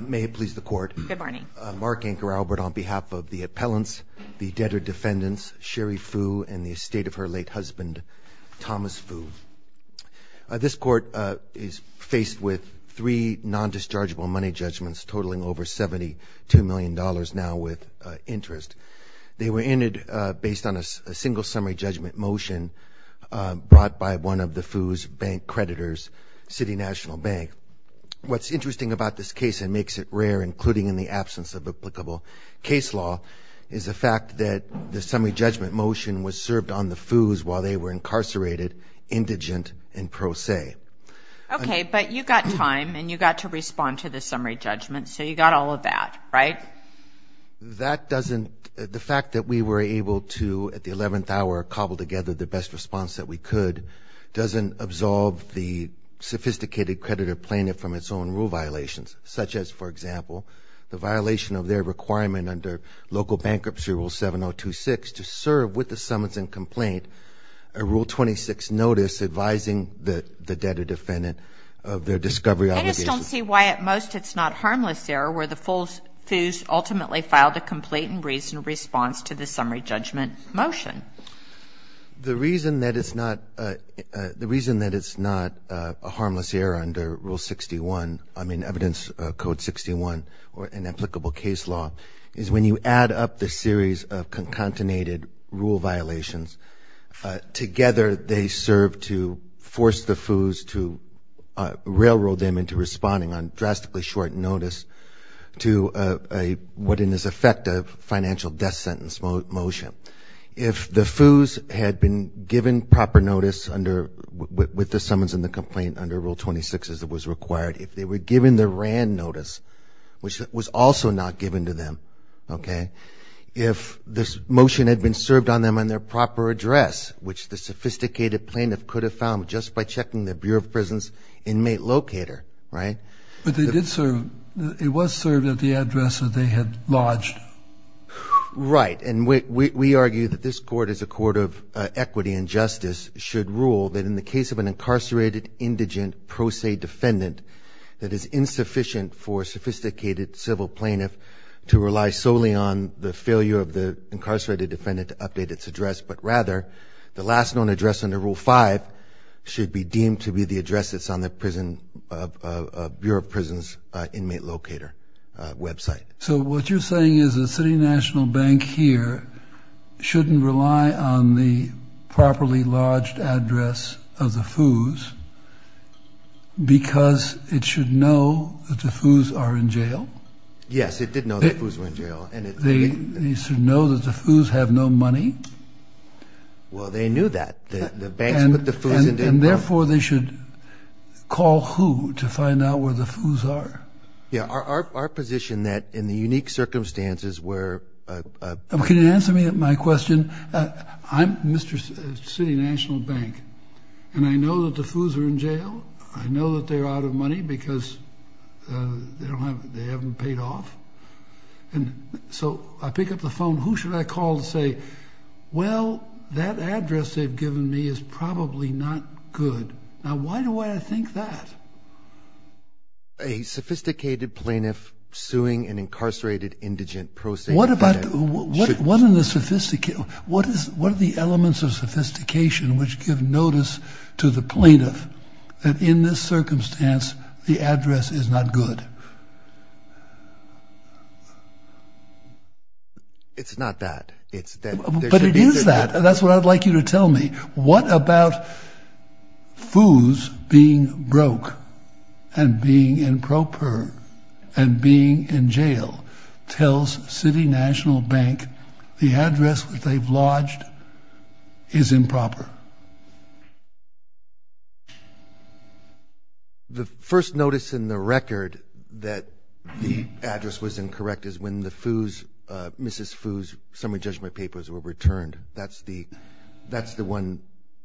May it please the court. Good morning. Mark Anker Albert on behalf of the appellants, the debtor defendants Sherri Fu and the estate of her late husband Thomas Fu. This court is faced with three non-dischargeable money judgments totaling over 72 million dollars now with interest. They were ended based on a single summary judgment motion brought by one of the Fu's bank creditors, City National Bank. What's interesting about this case and makes it rare including in the absence of applicable case law is the fact that the summary judgment motion was served on the Fu's while they were incarcerated, indigent and pro se. Okay but you got time and you got to respond to the summary judgment so you got all of that right? That doesn't, the fact that we were able to at the 11th hour cobble together the best response that we could doesn't absolve the sophisticated creditor plaintiff from its own rule violations such as for example the violation of their requirement under local bankruptcy rule 7026 to serve with the summons and complaint a rule 26 notice advising the the debtor defendant of their discovery obligations. I just don't see why at most it's not harmless error where the Fu's ultimately filed a complaint in reason response to the summary judgment motion. The reason that it's not, the reason that it's not harmless error under rule 61, I mean evidence code 61 or an applicable case law is when you add up the series of concatenated rule violations together they serve to force the Fu's to railroad them into responding on drastically short notice to a what in this effective financial death sentence motion. If the Fu's had been given proper notice under with the summons and the complaint under rule 26 as it was required, if they were given the RAND notice which was also not given to them okay, if this motion had been served on them on their proper address which the sophisticated plaintiff could have found just by checking the Bureau of Prisons inmate locator right? But they did serve, it was served at the address that they had lodged. Right and we argue that this court is a court of equity and justice should rule that in the case of an incarcerated indigent pro se defendant that is insufficient for sophisticated civil plaintiff to rely solely on the failure of the incarcerated defendant to update its address but rather the last known address under rule 5 should be deemed to be the address that's on the prison of Bureau of Prisons inmate locator website. So what you're saying is a city national bank here shouldn't rely on the properly lodged address of the Fu's because it should know that the Fu's are in jail? Yes it did know the Fu's were in jail. They should know that the Fu's have no money? Well they knew that the banks put the Fu's in jail. And therefore they should call who to find out where the Fu's are? Yeah our position that in the unique circumstances where... Can you answer me my question? I'm Mr. City National Bank and I know that the Fu's are in jail. I know that they're out of money because they haven't paid off and so I pick up the phone who should I call to say well that address they've given me is probably not good. Now why do I think that? A sophisticated plaintiff suing an incarcerated indigent prosecutor... What about what what are the sophisticated what is what are the elements of sophistication which give notice to the plaintiff that in this circumstance the address is not good? It's not that it's that and that's what I'd like you to tell me. What about Fu's being broke and being improper and being in jail tells City National Bank the address which they've lodged is improper? The first notice in the record that the address was incorrect is when the Fu's Mrs. Fu's summary judgment papers were returned that's the that's the one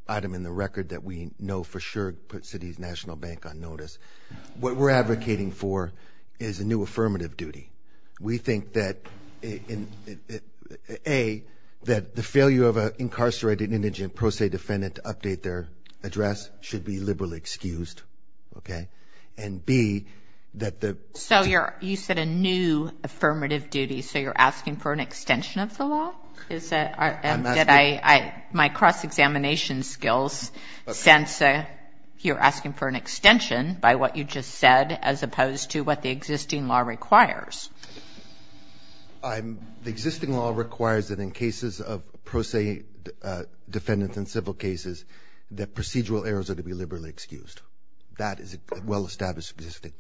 item in the record that we know for sure put City's National Bank on notice. What we're advocating for is a new affirmative duty. We think that in a that the failure of a incarcerated indigent prose defendant to update their address should be liberally excused okay and B that the... So you're you said a new affirmative duty so you're asking for an extension of the law? My cross-examination skills sense that you're asking for an extension by what you just said as opposed to what the existing law requires. The existing law requires that in cases of prose defendants and civil cases that procedural errors are to be liberally excused. That is a well-established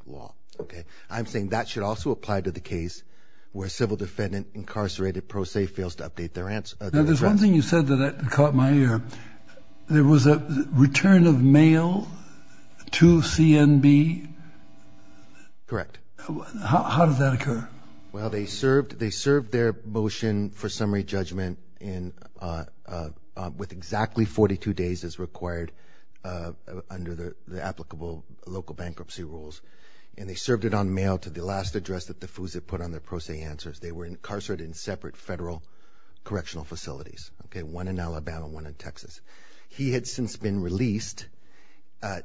law okay. I'm saying that should also apply to the case where a civil defendant incarcerated prose fails to update their answer. Now there's one thing you said that caught my ear. There was a return of mail to CNB? Correct. How did that occur? Well they served they served their motion for summary judgment in with exactly 42 days as required under the applicable local bankruptcy rules and they served it on mail to the last address that the FOOs have put on their prose answers. They were incarcerated in separate federal correctional facilities. Okay one in Alabama one in Texas. He had since been released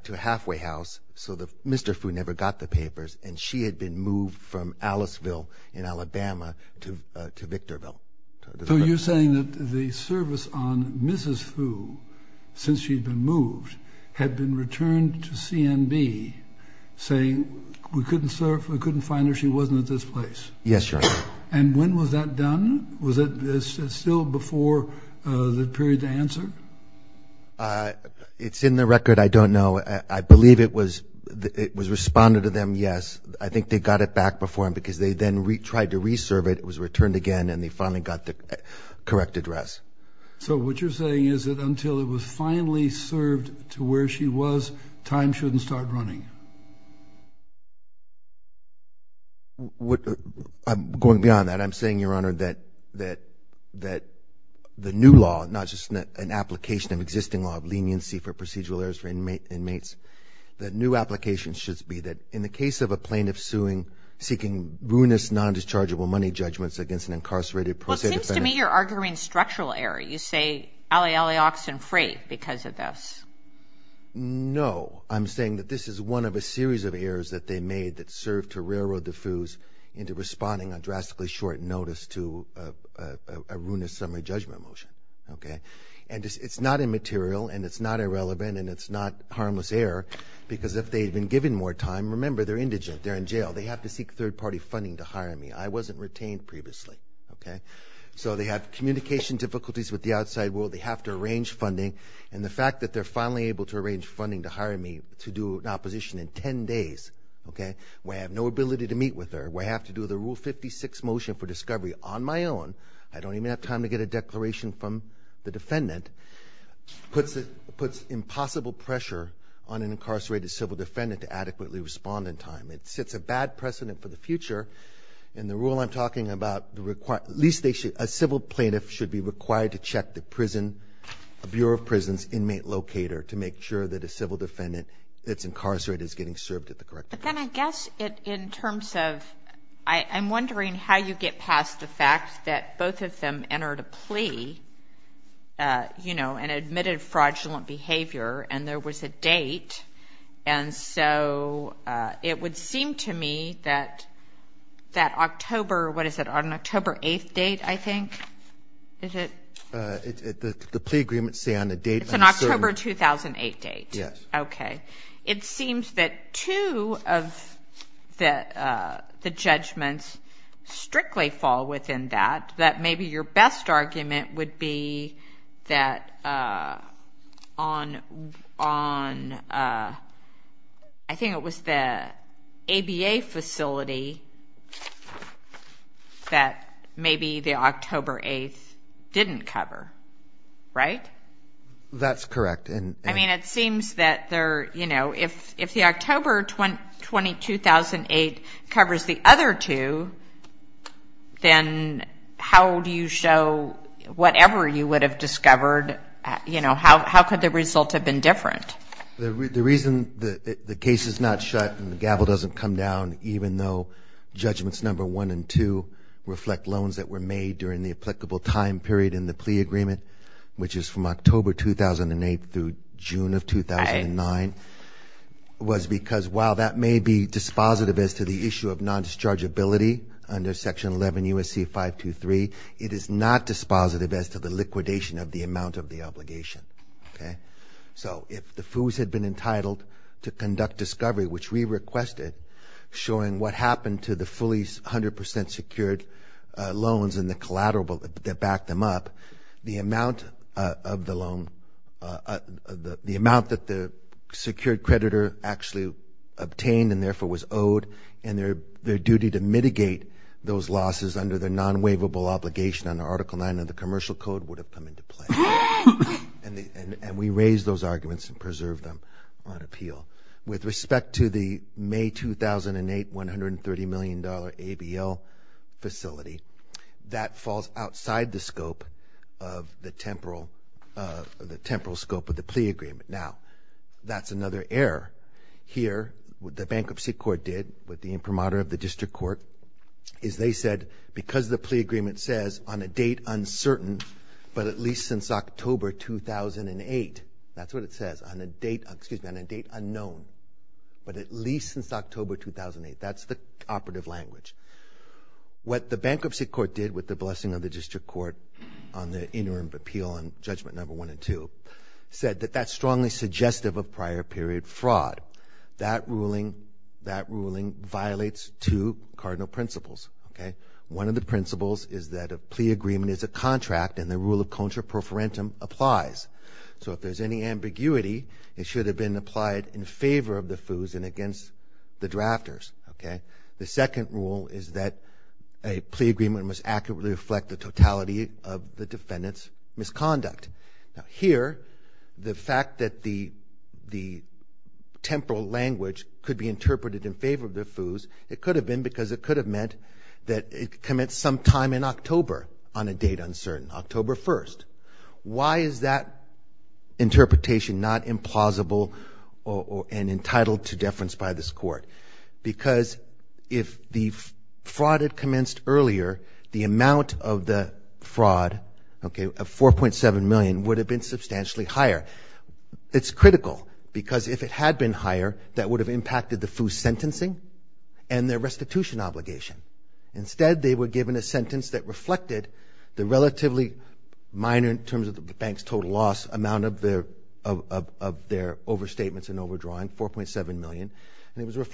to a halfway house so the Mr. FOO never got the papers and she had been moved from Aliceville in Alabama to Victorville. So you're saying that the saying we couldn't serve we couldn't find her she wasn't at this place? Yes sir. And when was that done? Was it still before the period to answer? It's in the record I don't know I believe it was it was responded to them yes I think they got it back before him because they then retried to reserve it was returned again and they finally got the correct address. So what you're saying is that until it was finally served to where she was time shouldn't start running? What I'm going beyond that I'm saying your honor that that that the new law not just an application of existing law of leniency for procedural errors for inmates that new applications should be that in the case of a plaintiff suing seeking ruinous non-dischargeable money judgments against an incarcerated to me you're arguing structural error you say alley alley oxen free because of this. No I'm saying that this is one of a series of errors that they made that served to railroad the FOOs into responding on drastically short notice to a ruinous summary judgment motion okay and it's not immaterial and it's not irrelevant and it's not harmless error because if they've been given more time remember they're indigent they're in jail they have to seek third-party funding to hire me I wasn't retained previously okay so they have communication difficulties with the outside world they have to arrange funding and the fact that they're finally able to arrange funding to hire me to do an opposition in ten days okay we have no ability to meet with her we have to do the rule 56 motion for discovery on my own I don't even have time to get a declaration from the defendant puts it puts impossible pressure on an incarcerated civil defendant to adequately respond in time it sets a bad precedent for the future and the rule I'm talking about the required least they should a civil plaintiff should be required to check the prison a Bureau of Prisons inmate locator to make sure that a civil defendant that's incarcerated is getting served at the correct but then I guess it in terms of I I'm wondering how you get past the fact that both of them entered a plea you know and admitted fraudulent behavior and there was a date and so it would seem to me that that October what is it on October 8th date I think is it the plea agreement say on the date it's an October 2008 date yes okay it seems that two of that the judgments strictly fall within that that maybe your best argument would be that on on I think it was the ABA facility that maybe the October 8th didn't cover right that's correct and I mean it seems that there you know if if the October 2020 2008 covers the other two then how do you show whatever you would have discovered you know how could the result have been different the reason the case is not shut and the gavel doesn't come down even though judgments number one and two reflect loans that were made during the applicable time period in the plea agreement which is from October 2008 through June of 2009 was because while that may be dispositive as to the issue of non-discharge ability under section 11 USC 523 it is not dispositive as to the liquidation of the amount of the obligation okay so if the foes had been entitled to conduct discovery which we requested showing what happened to the fully 100% secured loans and the collateral that backed them up the amount of the loan the amount that the secured creditor actually obtained and therefore was owed and their their duty to mitigate those losses under the non-waivable obligation under article 9 of the Commercial Code would have come into play and we raised those arguments and preserved them on appeal with respect to the May 2008 130 million dollar ABL facility that falls outside the scope of the temporal of the temporal scope of the plea agreement now that's another error here with the bankruptcy court did with the imprimatur of the district court is they said because the plea agreement says on a date uncertain but at least since October 2008 that's what it says on a date excuse me on a date unknown but at least since October 2008 that's the operative language what the bankruptcy court did with the blessing of the district court on the interim appeal on judgment number one and two said that that's strongly suggestive of prior period fraud that ruling that ruling violates two cardinal principles okay one of the principles is that a plea agreement is a contract and the rule of contra pro forensum applies so if there's any ambiguity it should have been applied in favor of the foes and against the drafters okay the second rule is that a plea agreement must accurately reflect the totality of the defendant's misconduct here the fact that the the temporal language could be interpreted in favor of the foes it could have been because it could have meant that it commits some time in October on a date uncertain October 1st why is that interpretation not implausible or and entitled to deference by this court because if the fraud had earlier the amount of the fraud okay a 4.7 million would have been substantially higher it's critical because if it had been higher that would have impacted the foo sentencing and their restitution obligation instead they were given a sentence that reflected the relatively minor in terms of the bank's total loss amount of their of their overstatements and overdrawing 4.7 million and it was you're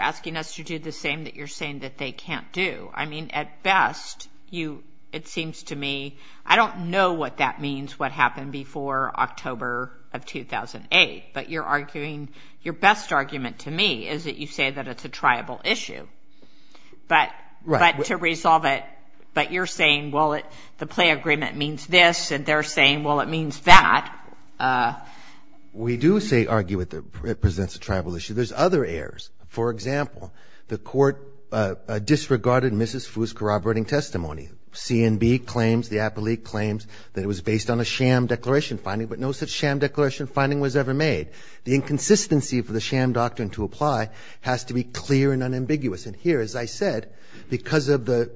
asking us to do the same that you're saying that they can't do I mean at best you it seems to me I don't know what that means what happened before October of 2008 but you're arguing your best argument to me is that you say that it's a tribal issue but right to resolve it but you're saying well it the play agreement means this and they're saying well it means that we do say argue with presents a tribal issue there's other errors for example the court disregarded mrs. who's corroborating testimony CNB claims the appellee claims that it was based on a sham declaration finding but no such sham declaration finding was ever made the inconsistency for the sham doctrine to apply has to be clear and unambiguous and here as I said because of the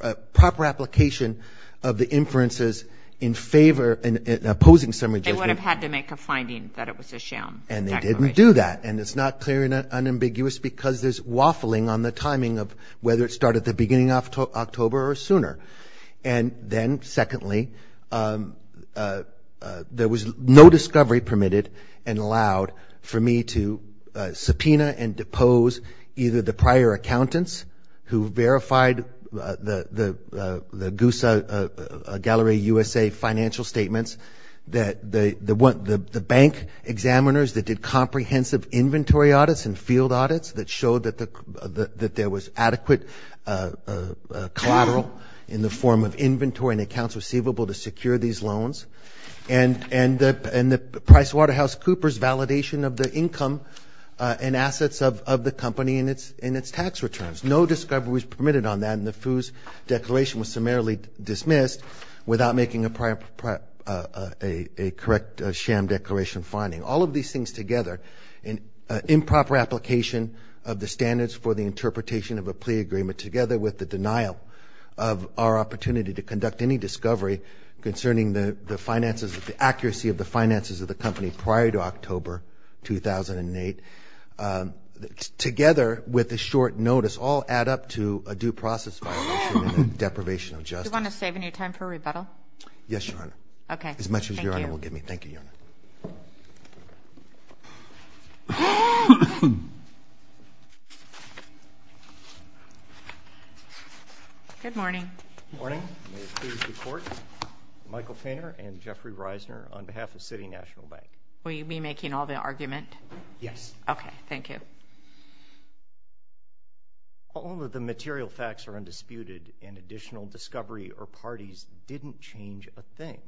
the proper application of the inferences in favor and opposing summary they would have had to make a finding and they didn't do that and it's not clear and unambiguous because there's waffling on the timing of whether it started the beginning of October or sooner and then secondly there was no discovery permitted and allowed for me to subpoena and depose either the prior accountants who verified the the the examiners that did comprehensive inventory audits and field audits that showed that the that there was adequate collateral in the form of inventory and accounts receivable to secure these loans and and that and the price Waterhouse Cooper's validation of the income and assets of the company in its in its tax returns no discovery was permitted on that and the FOOS declaration was summarily dismissed without making a prior a correct sham declaration finding all of these things together in improper application of the standards for the interpretation of a plea agreement together with the denial of our opportunity to conduct any discovery concerning the finances of the accuracy of the finances of the company prior to October 2008 together with a short notice all add up to a due process deprivation of just want to save any time for rebuttal yes your honor okay as much as your honor will give me thank you good morning morning court Michael Painter and Jeffrey Reisner on behalf of City National Bank will you be making all the argument yes okay thank you all of the material facts are undisputed and additional discovery or parties didn't change a thing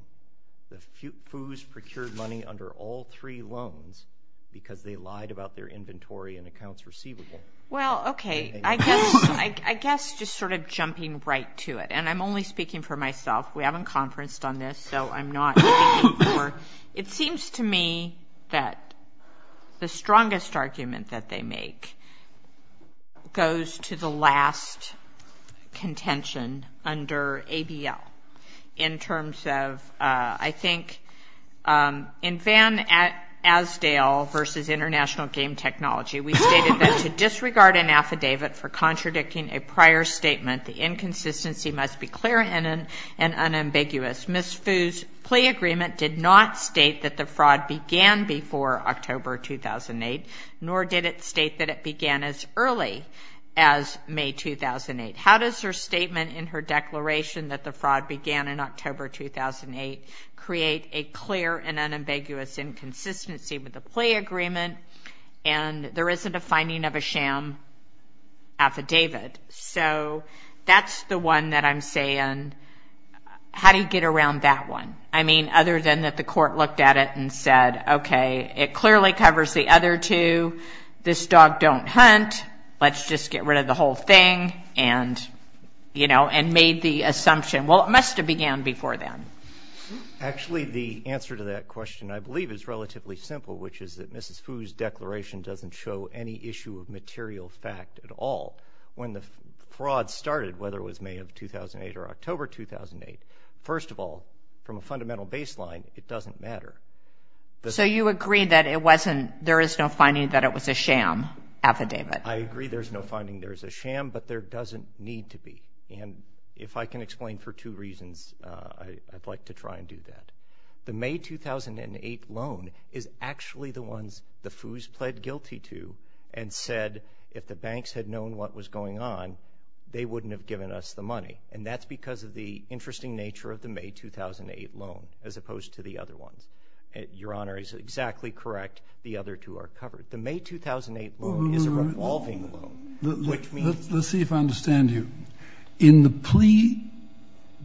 the FOOS procured money under all three loans because they lied about their inventory and accounts receivable well okay I guess I guess just sort of jumping right to it and I'm only speaking for myself we haven't conferenced on this so I'm not it seems to me that the strongest argument that they make goes to the last contention under ABL in terms of I think in van at as Dale versus International Game Technology we stated that to disregard an affidavit for contradicting a prior statement the inconsistency must be clear and an unambiguous miss foos plea agreement did not state that the fraud began before October 2008 nor did it state that it began as early as May 2008 how does her statement in her declaration that the fraud began in October 2008 create a clear and unambiguous inconsistency with the plea agreement and there isn't a finding of a sham affidavit so that's the one that I'm saying how do you get around that one I mean other than that the court looked at it and said okay it clearly covers the other two this dog don't hunt let's just get rid of the whole thing and you know and made the assumption well it must have began before them actually the answer to that question I believe is relatively simple which is that mrs. Foos declaration doesn't show any issue of material fact at all when the fraud started whether it was May of 2008 or October 2008 first of all from a fundamental baseline it doesn't matter so you agree that it wasn't there is no finding that it was a sham affidavit I agree there's no finding there's a sham but there doesn't need to be and if I can explain for two reasons I'd like to try and do that the May 2008 loan is actually the ones the foos pled guilty to and said if the banks had known what was going on they wouldn't have given us the money and that's because of the interesting nature of the May 2008 loan as opposed to the other ones your honor is exactly correct the other two are covered the May 2008 is a revolving let's see if I understand you in the plea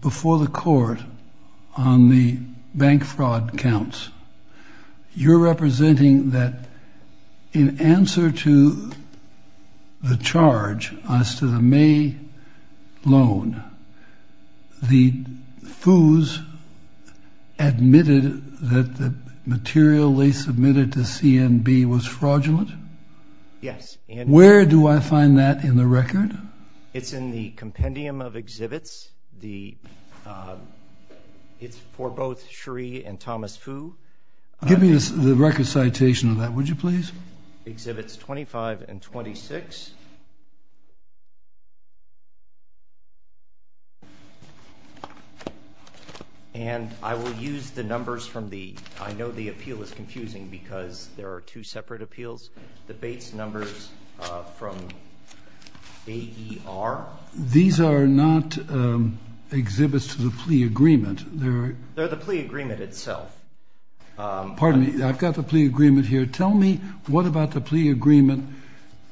before the court on the bank fraud counts you're representing that in answer to the charge as to the May loan the foos admitted that the material they submitted to CNB was fraudulent yes and where do I find that in the record it's in the compendium of exhibits the it's for both Sheree and Thomas who give me the record citation of that would you please exhibits 25 and 26 and I will use the numbers from the I know the appeal is confusing because there are two separate appeals the Bates numbers from AER these are not exhibits to the plea agreement there are there the plea agreement itself pardon me I've got the plea agreement here tell me what about the plea agreement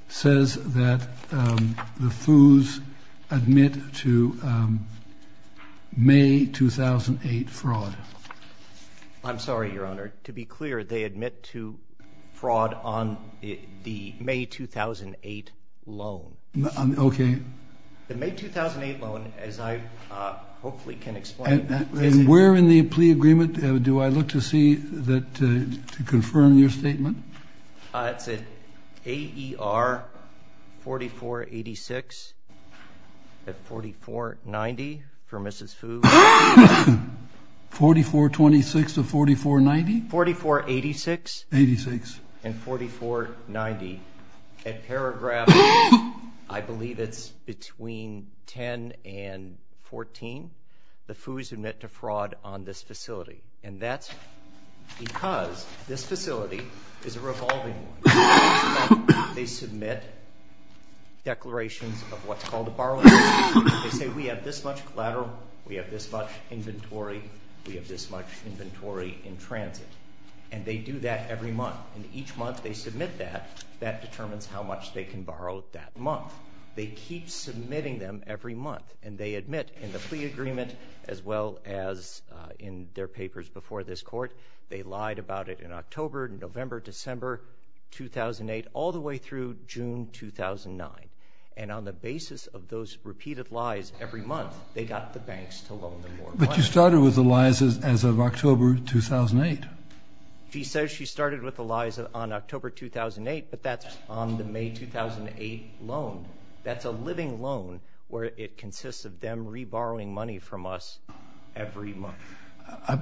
says that the foos admit to May 2008 fraud I'm sorry your honor to be clear they admit to fraud on the May 2008 loan okay the May 2008 loan as I hopefully can explain that we're in the plea agreement do I look to see that to confirm your statement it's an AER 4486 at 4490 for mrs. food 4426 of 4490 44 86 86 and 4490 at paragraph I believe it's between 10 and 14 the foos who met to fraud on this facility and that's because this facility is a revolving they submit declarations of what's called a borrower they say we have this much collateral we have this much inventory we have this much inventory in and they do that every month and each month they submit that that determines how much they can borrow that month they keep submitting them every month and they admit in the plea agreement as well as in their papers before this court they lied about it in October and November December 2008 all the way through June 2009 and on the basis of those repeated lies every month they got the banks to October 2008 he says she started with Eliza on October 2008 but that's on the May 2008 loan that's a living loan where it consists of them re-borrowing money from us every month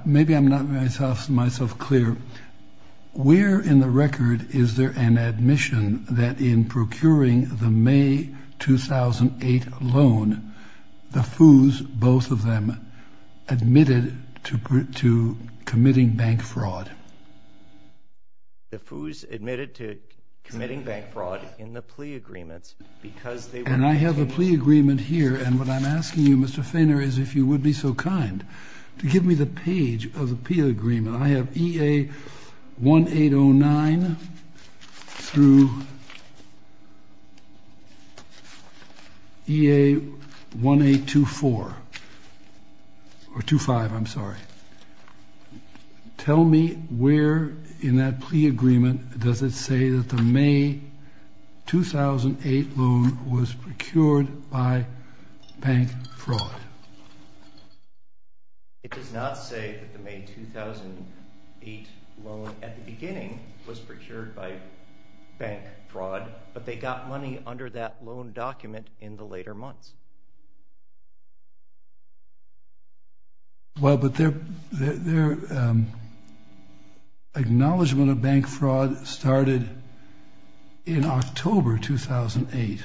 maybe I'm not myself myself clear we're in the record is there an admission that in procuring the May 2008 loan the foos both of them admitted to committing bank fraud the foos admitted to committing bank fraud in the plea agreements because they and I have a plea agreement here and what I'm asking you Mr. Fainer is if you would be so kind to give me the page of 2-4 or 2-5 I'm sorry tell me where in that plea agreement does it say that the May 2008 loan was procured by bank fraud it does not say that the May 2008 loan at the beginning was procured by bank fraud but they got money under that loan document in the later months well but their acknowledgement of bank fraud started in October 2008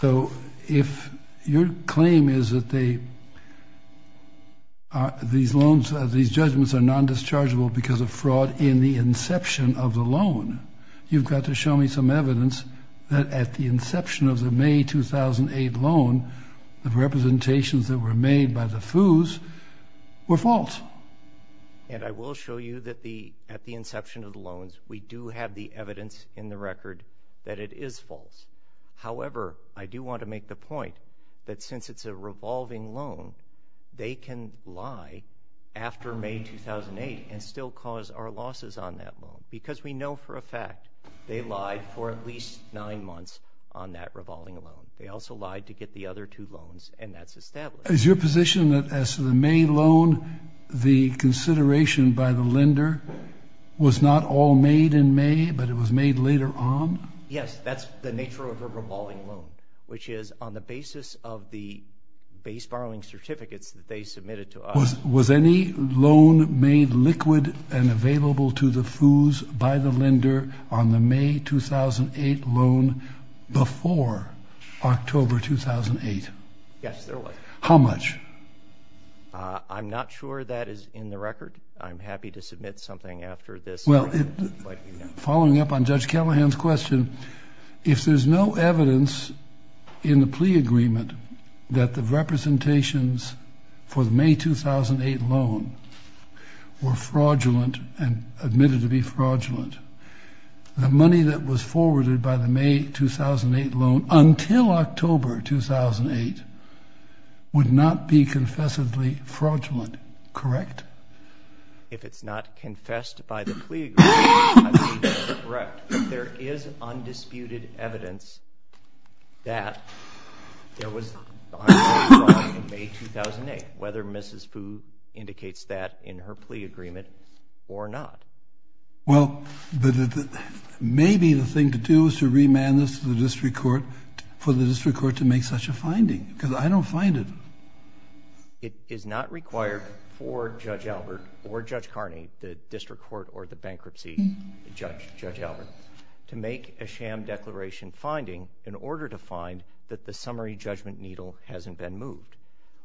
so if your claim is that they these loans these judgments are non-dischargeable because of fraud in the inception of the loan you've got to show me some evidence that at the inception of the May 2008 loan the representations that were made by the foos were false and I will show you that the at the inception of the loans we do have the evidence in the record that it is false however I do want to make the point that since it's a revolving loan they can lie after May 2008 and still cause our losses on that loan because we know for a fact they lied for at least nine months on that revolving loan they also lied to get the other two loans and that's established is your position that as to the May loan the consideration by the lender was not all made in May but it was made later on yes that's the nature of a revolving loan which is on the basis of the base borrowing certificates that they submitted to us was any loan made liquid and available to the foos by the lender on the May 2008 loan before October 2008 how much I'm not sure that is in the record I'm happy to submit something after this well following up on judge Callahan's question if there's no evidence in the plea agreement that the representations for the May 2008 loan were fraudulent and admitted to be fraudulent the money that was forwarded by the May 2008 loan until October 2008 would not be confessively fraudulent correct if it's not confessed by the plea there is whether mrs. Fu indicates that in her plea agreement or not well but maybe the thing to do is to remand this to the district court for the district court to make such a finding because I don't find it it is not required for judge Albert or judge Carney the district court or the bankruptcy judge judge Albert to make a sham declaration finding in order to find that the summary judgment needle hasn't been moved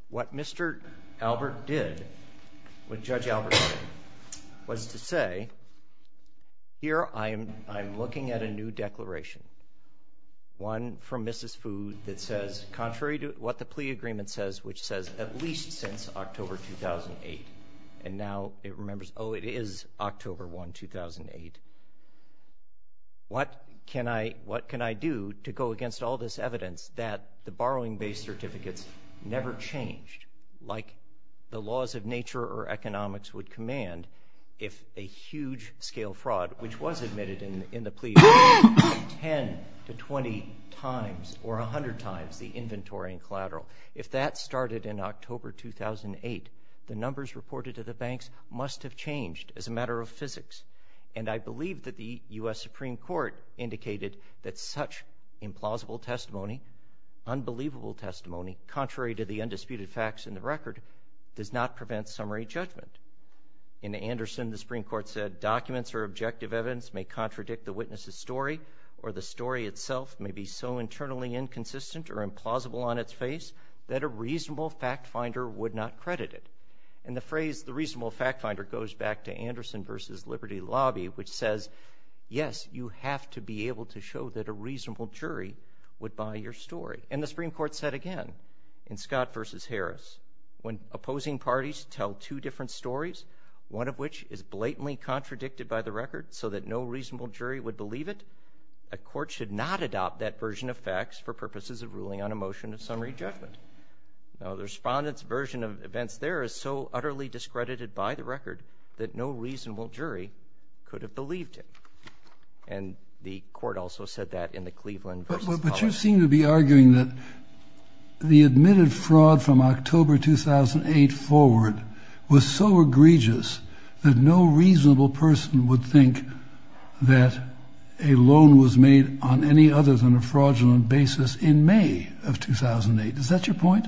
what mr. Albert did what judge Albert was to say here I am I'm looking at a new declaration one from mrs. food that says contrary to what the plea agreement says which says at least since October 2008 and now it remembers oh it is October 1 2008 what can I what can I do to go against all this evidence that the borrowing-based certificates never changed like the laws of nature or economics would command if a huge scale fraud which was admitted in in the plea 10 to 20 times or a hundred times the inventory and collateral if that started in October 2008 the numbers reported to the banks must have changed as a matter of physics and I believe that the US Supreme Court indicated that such implausible testimony unbelievable testimony contrary to the undisputed facts in the record does not prevent summary judgment in Anderson the Supreme Court said documents or objective evidence may contradict the witnesses story or the story itself may be so internally inconsistent or implausible on its face that a reasonable fact finder would not credit it and the phrase the reasonable fact finder goes back to Anderson versus Liberty Lobby which says yes you have to be able to show that a reasonable jury would buy your story and the Supreme Court said again in Scott versus Harris when opposing parties tell two different stories one of which is blatantly contradicted by the record so that no reasonable jury would believe it a court should not adopt that version of facts for purposes of ruling on a motion of summary judgment now the respondents version of events there is so utterly discredited by the record that no and the court also said that in the Cleveland but you seem to be arguing that the admitted fraud from October 2008 forward was so egregious that no reasonable person would think that a loan was made on any other than a fraudulent basis in May of 2008 is that your point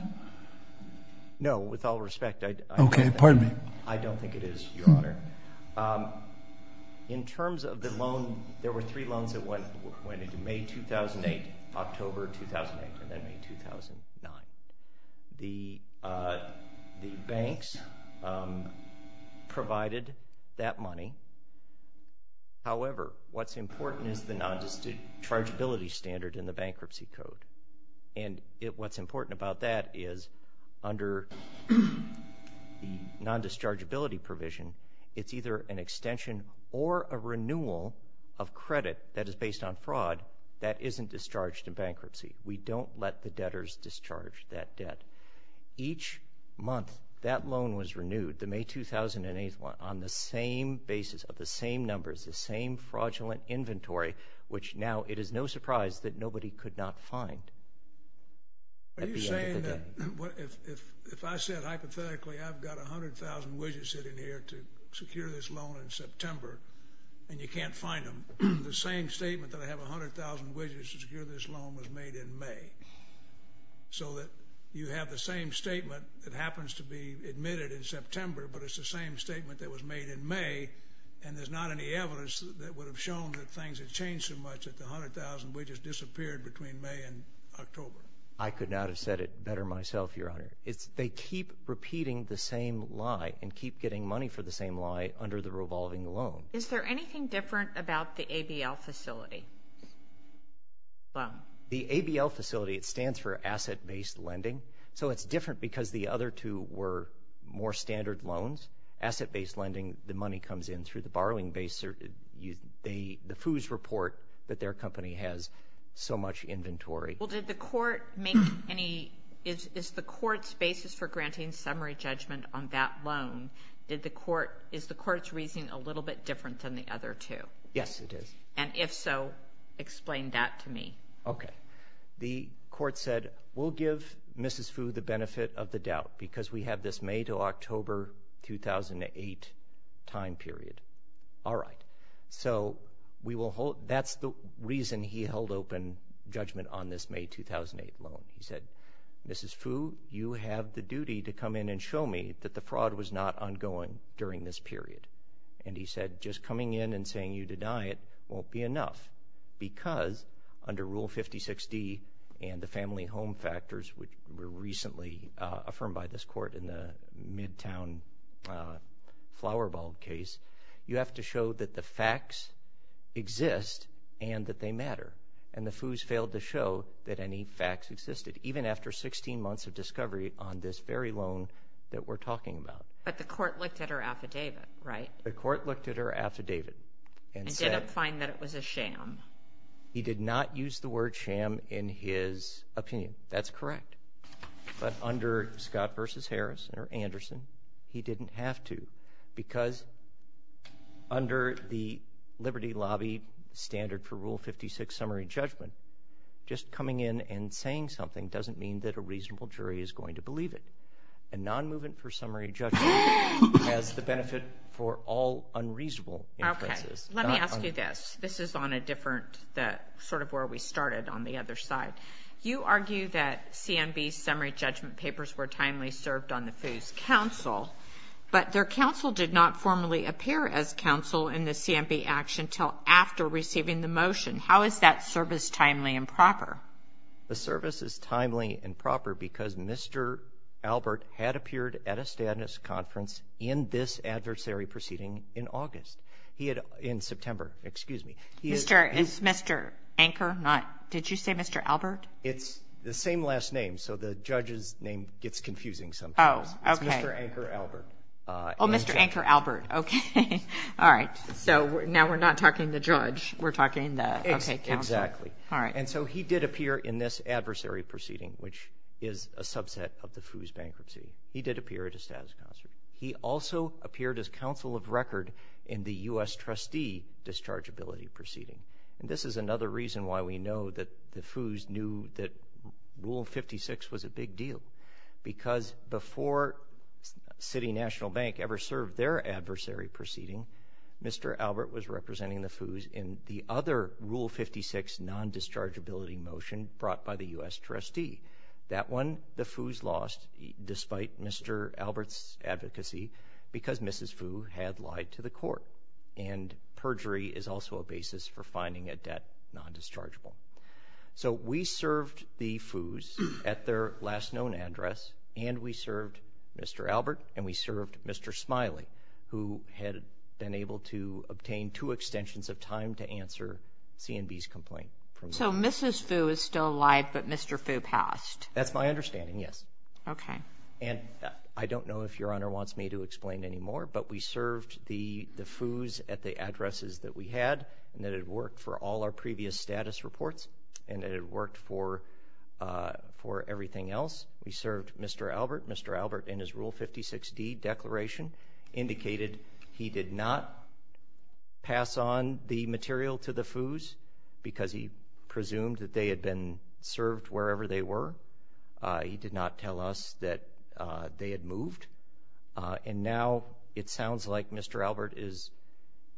no with all respect okay pardon me I don't think it is your honor in terms of the loan there were three loans that went went into May 2008 October 2008 and then in 2009 the the banks provided that money however what's important is the non-justice chargeability standard in the bankruptcy code and it what's important about that is under the non-discharge ability provision it's either an extension or a renewal of credit that is based on fraud that isn't discharged in bankruptcy we don't let the debtors discharge that debt each month that loan was renewed the May 2008 one on the same basis of the same numbers the same fraudulent if I said hypothetically I've got a hundred thousand widgets sitting here to secure this loan in September and you can't find them the same statement that I have a hundred thousand widgets to secure this loan was made in May so that you have the same statement that happens to be admitted in September but it's the same statement that was made in May and there's not any evidence that would have shown that things have changed so much at the hundred thousand we just disappeared between May and October I could not have said it better myself your honor it's they keep repeating the same lie and keep getting money for the same lie under the revolving loan is there anything different about the ABL facility well the ABL facility it stands for asset-based lending so it's different because the other two were more standard loans asset-based lending the money comes in through the borrowing base or you the the FOOS report that their company has so much inventory well did the court make any is the court's basis for granting summary judgment on that loan did the court is the court's reasoning a little bit different than the other two yes it is and if so explain that to me okay the court said we'll give mrs. food the benefit of the doubt because we have this made till October 2008 time period all right so we will hold that's the reason he held open judgment on this May 2008 loan he said mrs. food you have the duty to come in and show me that the fraud was not ongoing during this period and he said just coming in and saying you deny it won't be enough because under rule 56 D and the family home factors which were recently affirmed by this court in the midtown flower bulb case you have to show that the facts exist and that they matter and the FOOS failed to show that any facts existed even after 16 months of discovery on this very loan that we're talking about but the court looked at her affidavit right the court looked at her affidavit and said I'm fine that it was a sham he did not use the word sham in his opinion that's correct but under Scott versus Harrison or Anderson he didn't have to because under the Liberty Lobby standard for rule 56 summary judgment just coming in and saying something doesn't mean that a reasonable jury is going to believe it and non-movement for summary judgment as the benefit for all unreasonable okay let me ask you this this is on a different that sort of where we started on the other side you on the FOOS counsel but their counsel did not formally appear as counsel in the CMP action till after receiving the motion how is that service timely and proper the service is timely and proper because mr. Albert had appeared at a Stateness conference in this adversary proceeding in August he had in September excuse me he is there is mr. anchor not did you say mr. Albert it's the same last name so the judge's name gets confusing sometimes oh okay anchor Albert Oh mr. anchor Albert okay all right so now we're not talking the judge we're talking that it's exactly all right and so he did appear in this adversary proceeding which is a subset of the FOOS bankruptcy he did appear at a status concert he also appeared as counsel of record in the u.s. trustee discharge ability proceeding and this is another reason why we know that the FOOS knew that rule 56 was a big deal because before City National Bank ever served their adversary proceeding mr. Albert was representing the FOOS in the other rule 56 non-discharge ability motion brought by the u.s. trustee that one the FOOS lost despite mr. Albert's advocacy because mrs. FOO had lied to the court and perjury is also a basis for finding a debt non-dischargeable so we served the FOOS at their last known address and we served mr. Albert and we served mr. Smiley who had been able to obtain two extensions of time to answer CNB's complaint so mrs. FOO is still alive but mr. FOO passed that's my understanding yes okay and I don't know if your honor wants me to explain any more but we served the the FOOS at the addresses that we had and that it worked for all our previous status reports and it worked for for everything else we served mr. Albert mr. Albert in his rule 56 D declaration indicated he did not pass on the material to the FOOS because he presumed that they had been served wherever they were he did not tell us that they had moved and now it sounds like mr. Albert is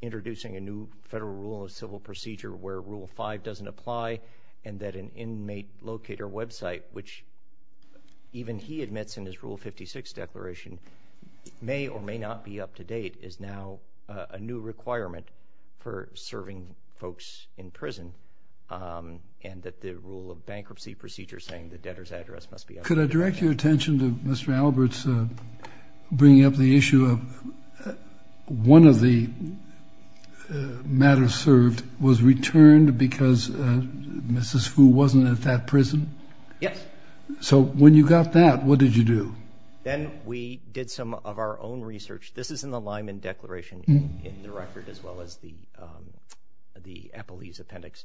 introducing a new federal rule of civil procedure where rule 5 doesn't apply and that an inmate locator website which even he admits in his rule 56 declaration may or may not be up-to-date is now a new requirement for serving folks in prison and that the rule of bankruptcy procedure saying the debtors address must be could I direct your attention to mr. Albert's bringing up the issue of one of the matters served was returned because mrs. FOO wasn't at that prison yes so when you got that what did you do then we did some of our own research this is in the Lyman declaration in the record as well as the the Applebee's appendix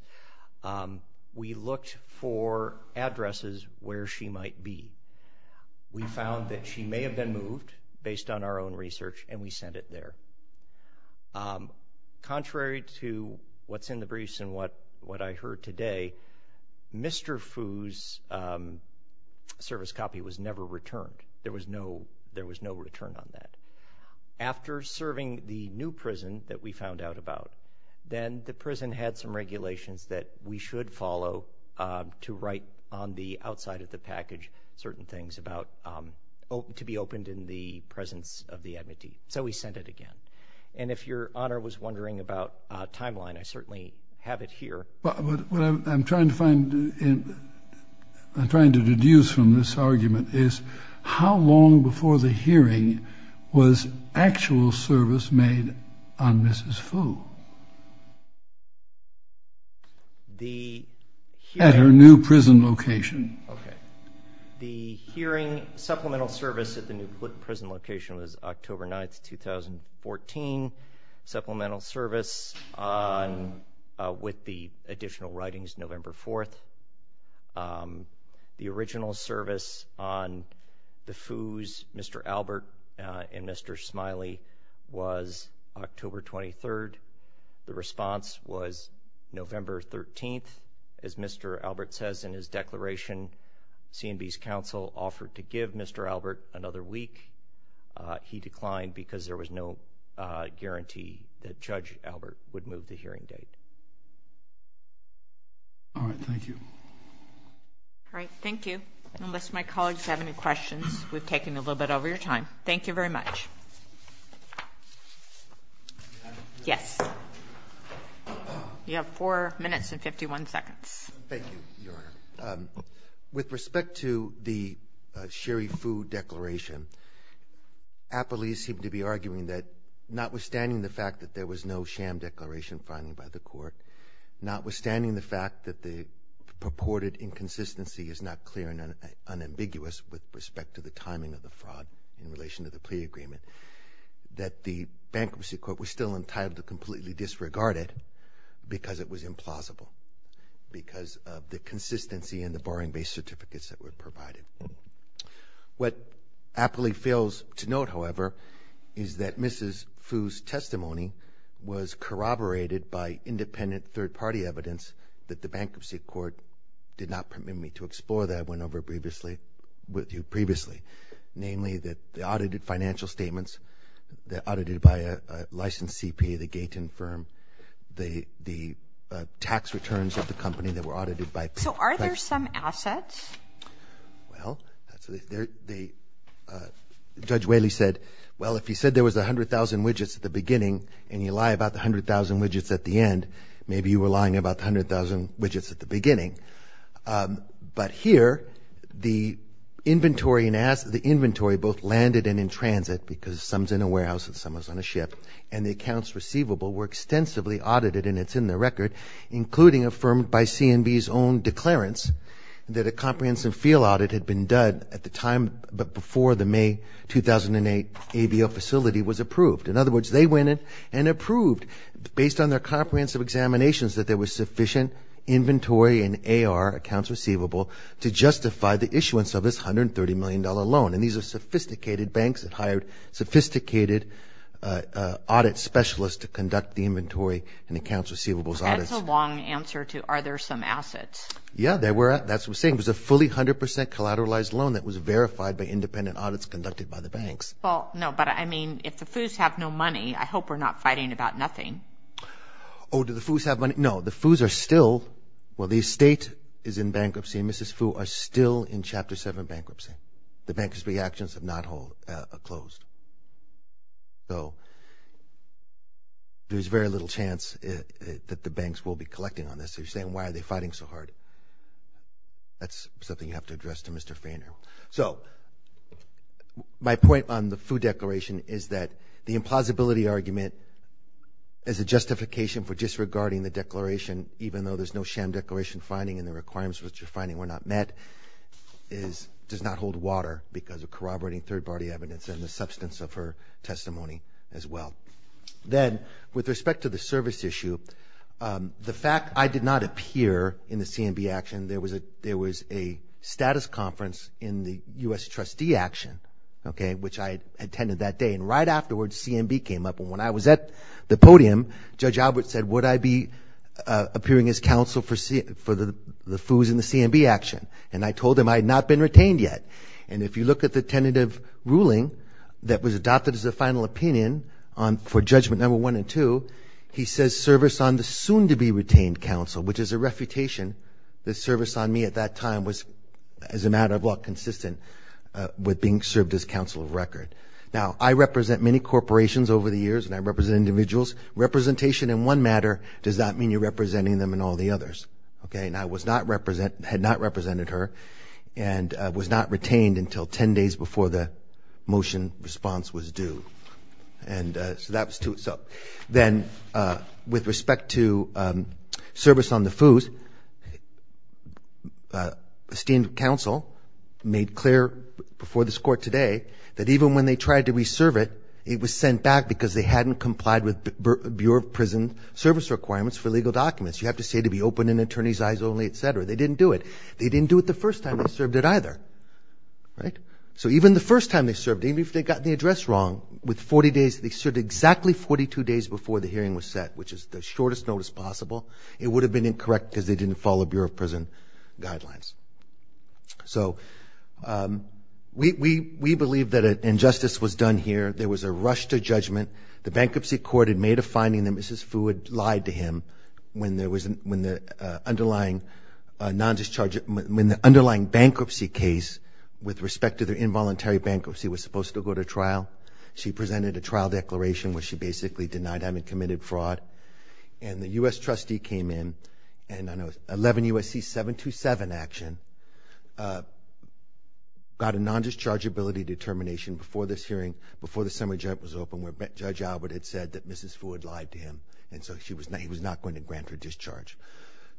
we looked for addresses where she might be we our own research and we sent it there contrary to what's in the briefs and what what I heard today mr. FOOS service copy was never returned there was no there was no return on that after serving the new prison that we found out about then the prison had some regulations that we should follow to write on the outside of the package certain things about open to be opened in the presence of the amity so we sent it again and if your honor was wondering about timeline I certainly have it here but I'm trying to find in I'm trying to deduce from this argument is how long before the hearing was actual service made on mrs. FOO the at her new prison location okay the hearing supplemental service at the new prison location was October 9th 2014 supplemental service with the additional writings November 4th the original service on the FOOS mr. Albert and mr. Smiley was October 23rd the response was November 13th as mr. Albert says in his declaration CNB's counsel offered to give mr. Albert another week he declined because there was no guarantee that judge Albert would move the hearing date all right thank you all right thank you unless my colleagues have any questions we've taken a little bit over your time thank you very much yes you have four minutes and 51 seconds with respect to the sherry food declaration a police seem to be arguing that notwithstanding the fact that there was no sham declaration finally by the court notwithstanding the fact that the purported inconsistency is not clear and unambiguous with respect to the timing of the fraud in relation to the plea agreement that the bankruptcy court was still entitled to completely disregard it because it was implausible because of the consistency and the barring base certificates that were provided what aptly fails to note however is that mrs. FOOS testimony was corroborated by independent third-party evidence that the bankruptcy court did not permit me to explore that went over previously with you previously namely that the audited financial statements that audited by a licensed CP the gate and firm the the tax returns of the company that were audited by so are there some assets well the judge Whaley said well if you said there was a hundred thousand widgets at the beginning and you lie about the hundred thousand widgets at the end maybe you were lying about the widgets at the beginning but here the inventory and asked the inventory both landed and in transit because sums in a warehouse and someone's on a ship and the accounts receivable were extensively audited and it's in the record including affirmed by CNB's own declarants that a comprehensive field audit had been done at the time but before the May 2008 ABL facility was approved in other words they went in and approved based on their comprehensive examinations that there was sufficient inventory and AR accounts receivable to justify the issuance of this hundred thirty million dollar loan and these are sophisticated banks that hired sophisticated audit specialists to conduct the inventory and accounts receivables that's a long answer to are there some assets yeah they were at that's what seems a fully hundred percent collateralized loan that was verified by independent audits conducted by the banks well no but I mean if the foos have no money I hope we're not fighting about nothing oh do the foos have money no the foos are still well the estate is in bankruptcy and mrs. foo are still in chapter 7 bankruptcy the bankers reactions have not hold a closed so there's very little chance that the banks will be collecting on this they're saying why are they fighting so hard that's something you have to address to mr. Fainer so my point on the food declaration is that the justification for disregarding the declaration even though there's no sham declaration finding and the requirements which are finding we're not met is does not hold water because of corroborating third-party evidence and the substance of her testimony as well then with respect to the service issue the fact I did not appear in the CNB action there was a there was a status conference in the US trustee action okay which I attended that day and right afterwards CNB came up and when I was at the podium judge Albert said would I be appearing as counsel for see for the foos in the CNB action and I told him I had not been retained yet and if you look at the tentative ruling that was adopted as a final opinion on for judgment number one and two he says service on the soon-to-be retained counsel which is a refutation the service on me at that time was as a matter of law consistent with being many corporations over the years and I represent individuals representation in one matter does that mean you're representing them in all the others okay and I was not represent had not represented her and was not retained until ten days before the motion response was due and so that was to itself then with respect to service on the foos esteemed counsel made clear before this court today that even when they tried to serve it it was sent back because they hadn't complied with Bureau of Prison service requirements for legal documents you have to say to be open in attorneys eyes only etc they didn't do it they didn't do it the first time I served it either right so even the first time they served even if they got the address wrong with 40 days they served exactly 42 days before the hearing was set which is the shortest notice possible it would have been incorrect because they didn't follow Bureau of Prison guidelines so we we believe that an injustice was done here there was a rush to judgment the bankruptcy court had made a finding that mrs. food lied to him when there wasn't when the underlying non-discharge when the underlying bankruptcy case with respect to the involuntary bankruptcy was supposed to go to trial she presented a trial declaration where she basically denied having committed fraud and the US trustee came in and I know 11 USC 727 action got a non discharge ability determination before this hearing before the summer jump was open where judge Albert had said that mrs. food lied to him and so she was not he was not going to grant her discharge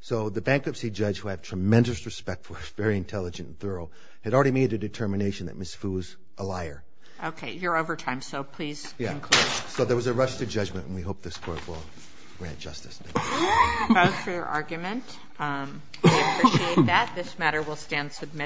so the bankruptcy judge who had tremendous respect for her very intelligent and thorough had already made a determination that miss foos a liar okay you're over time so please yeah so there was a rush to judgment and we hope this court will grant justice for your argument that this matter will stand submitted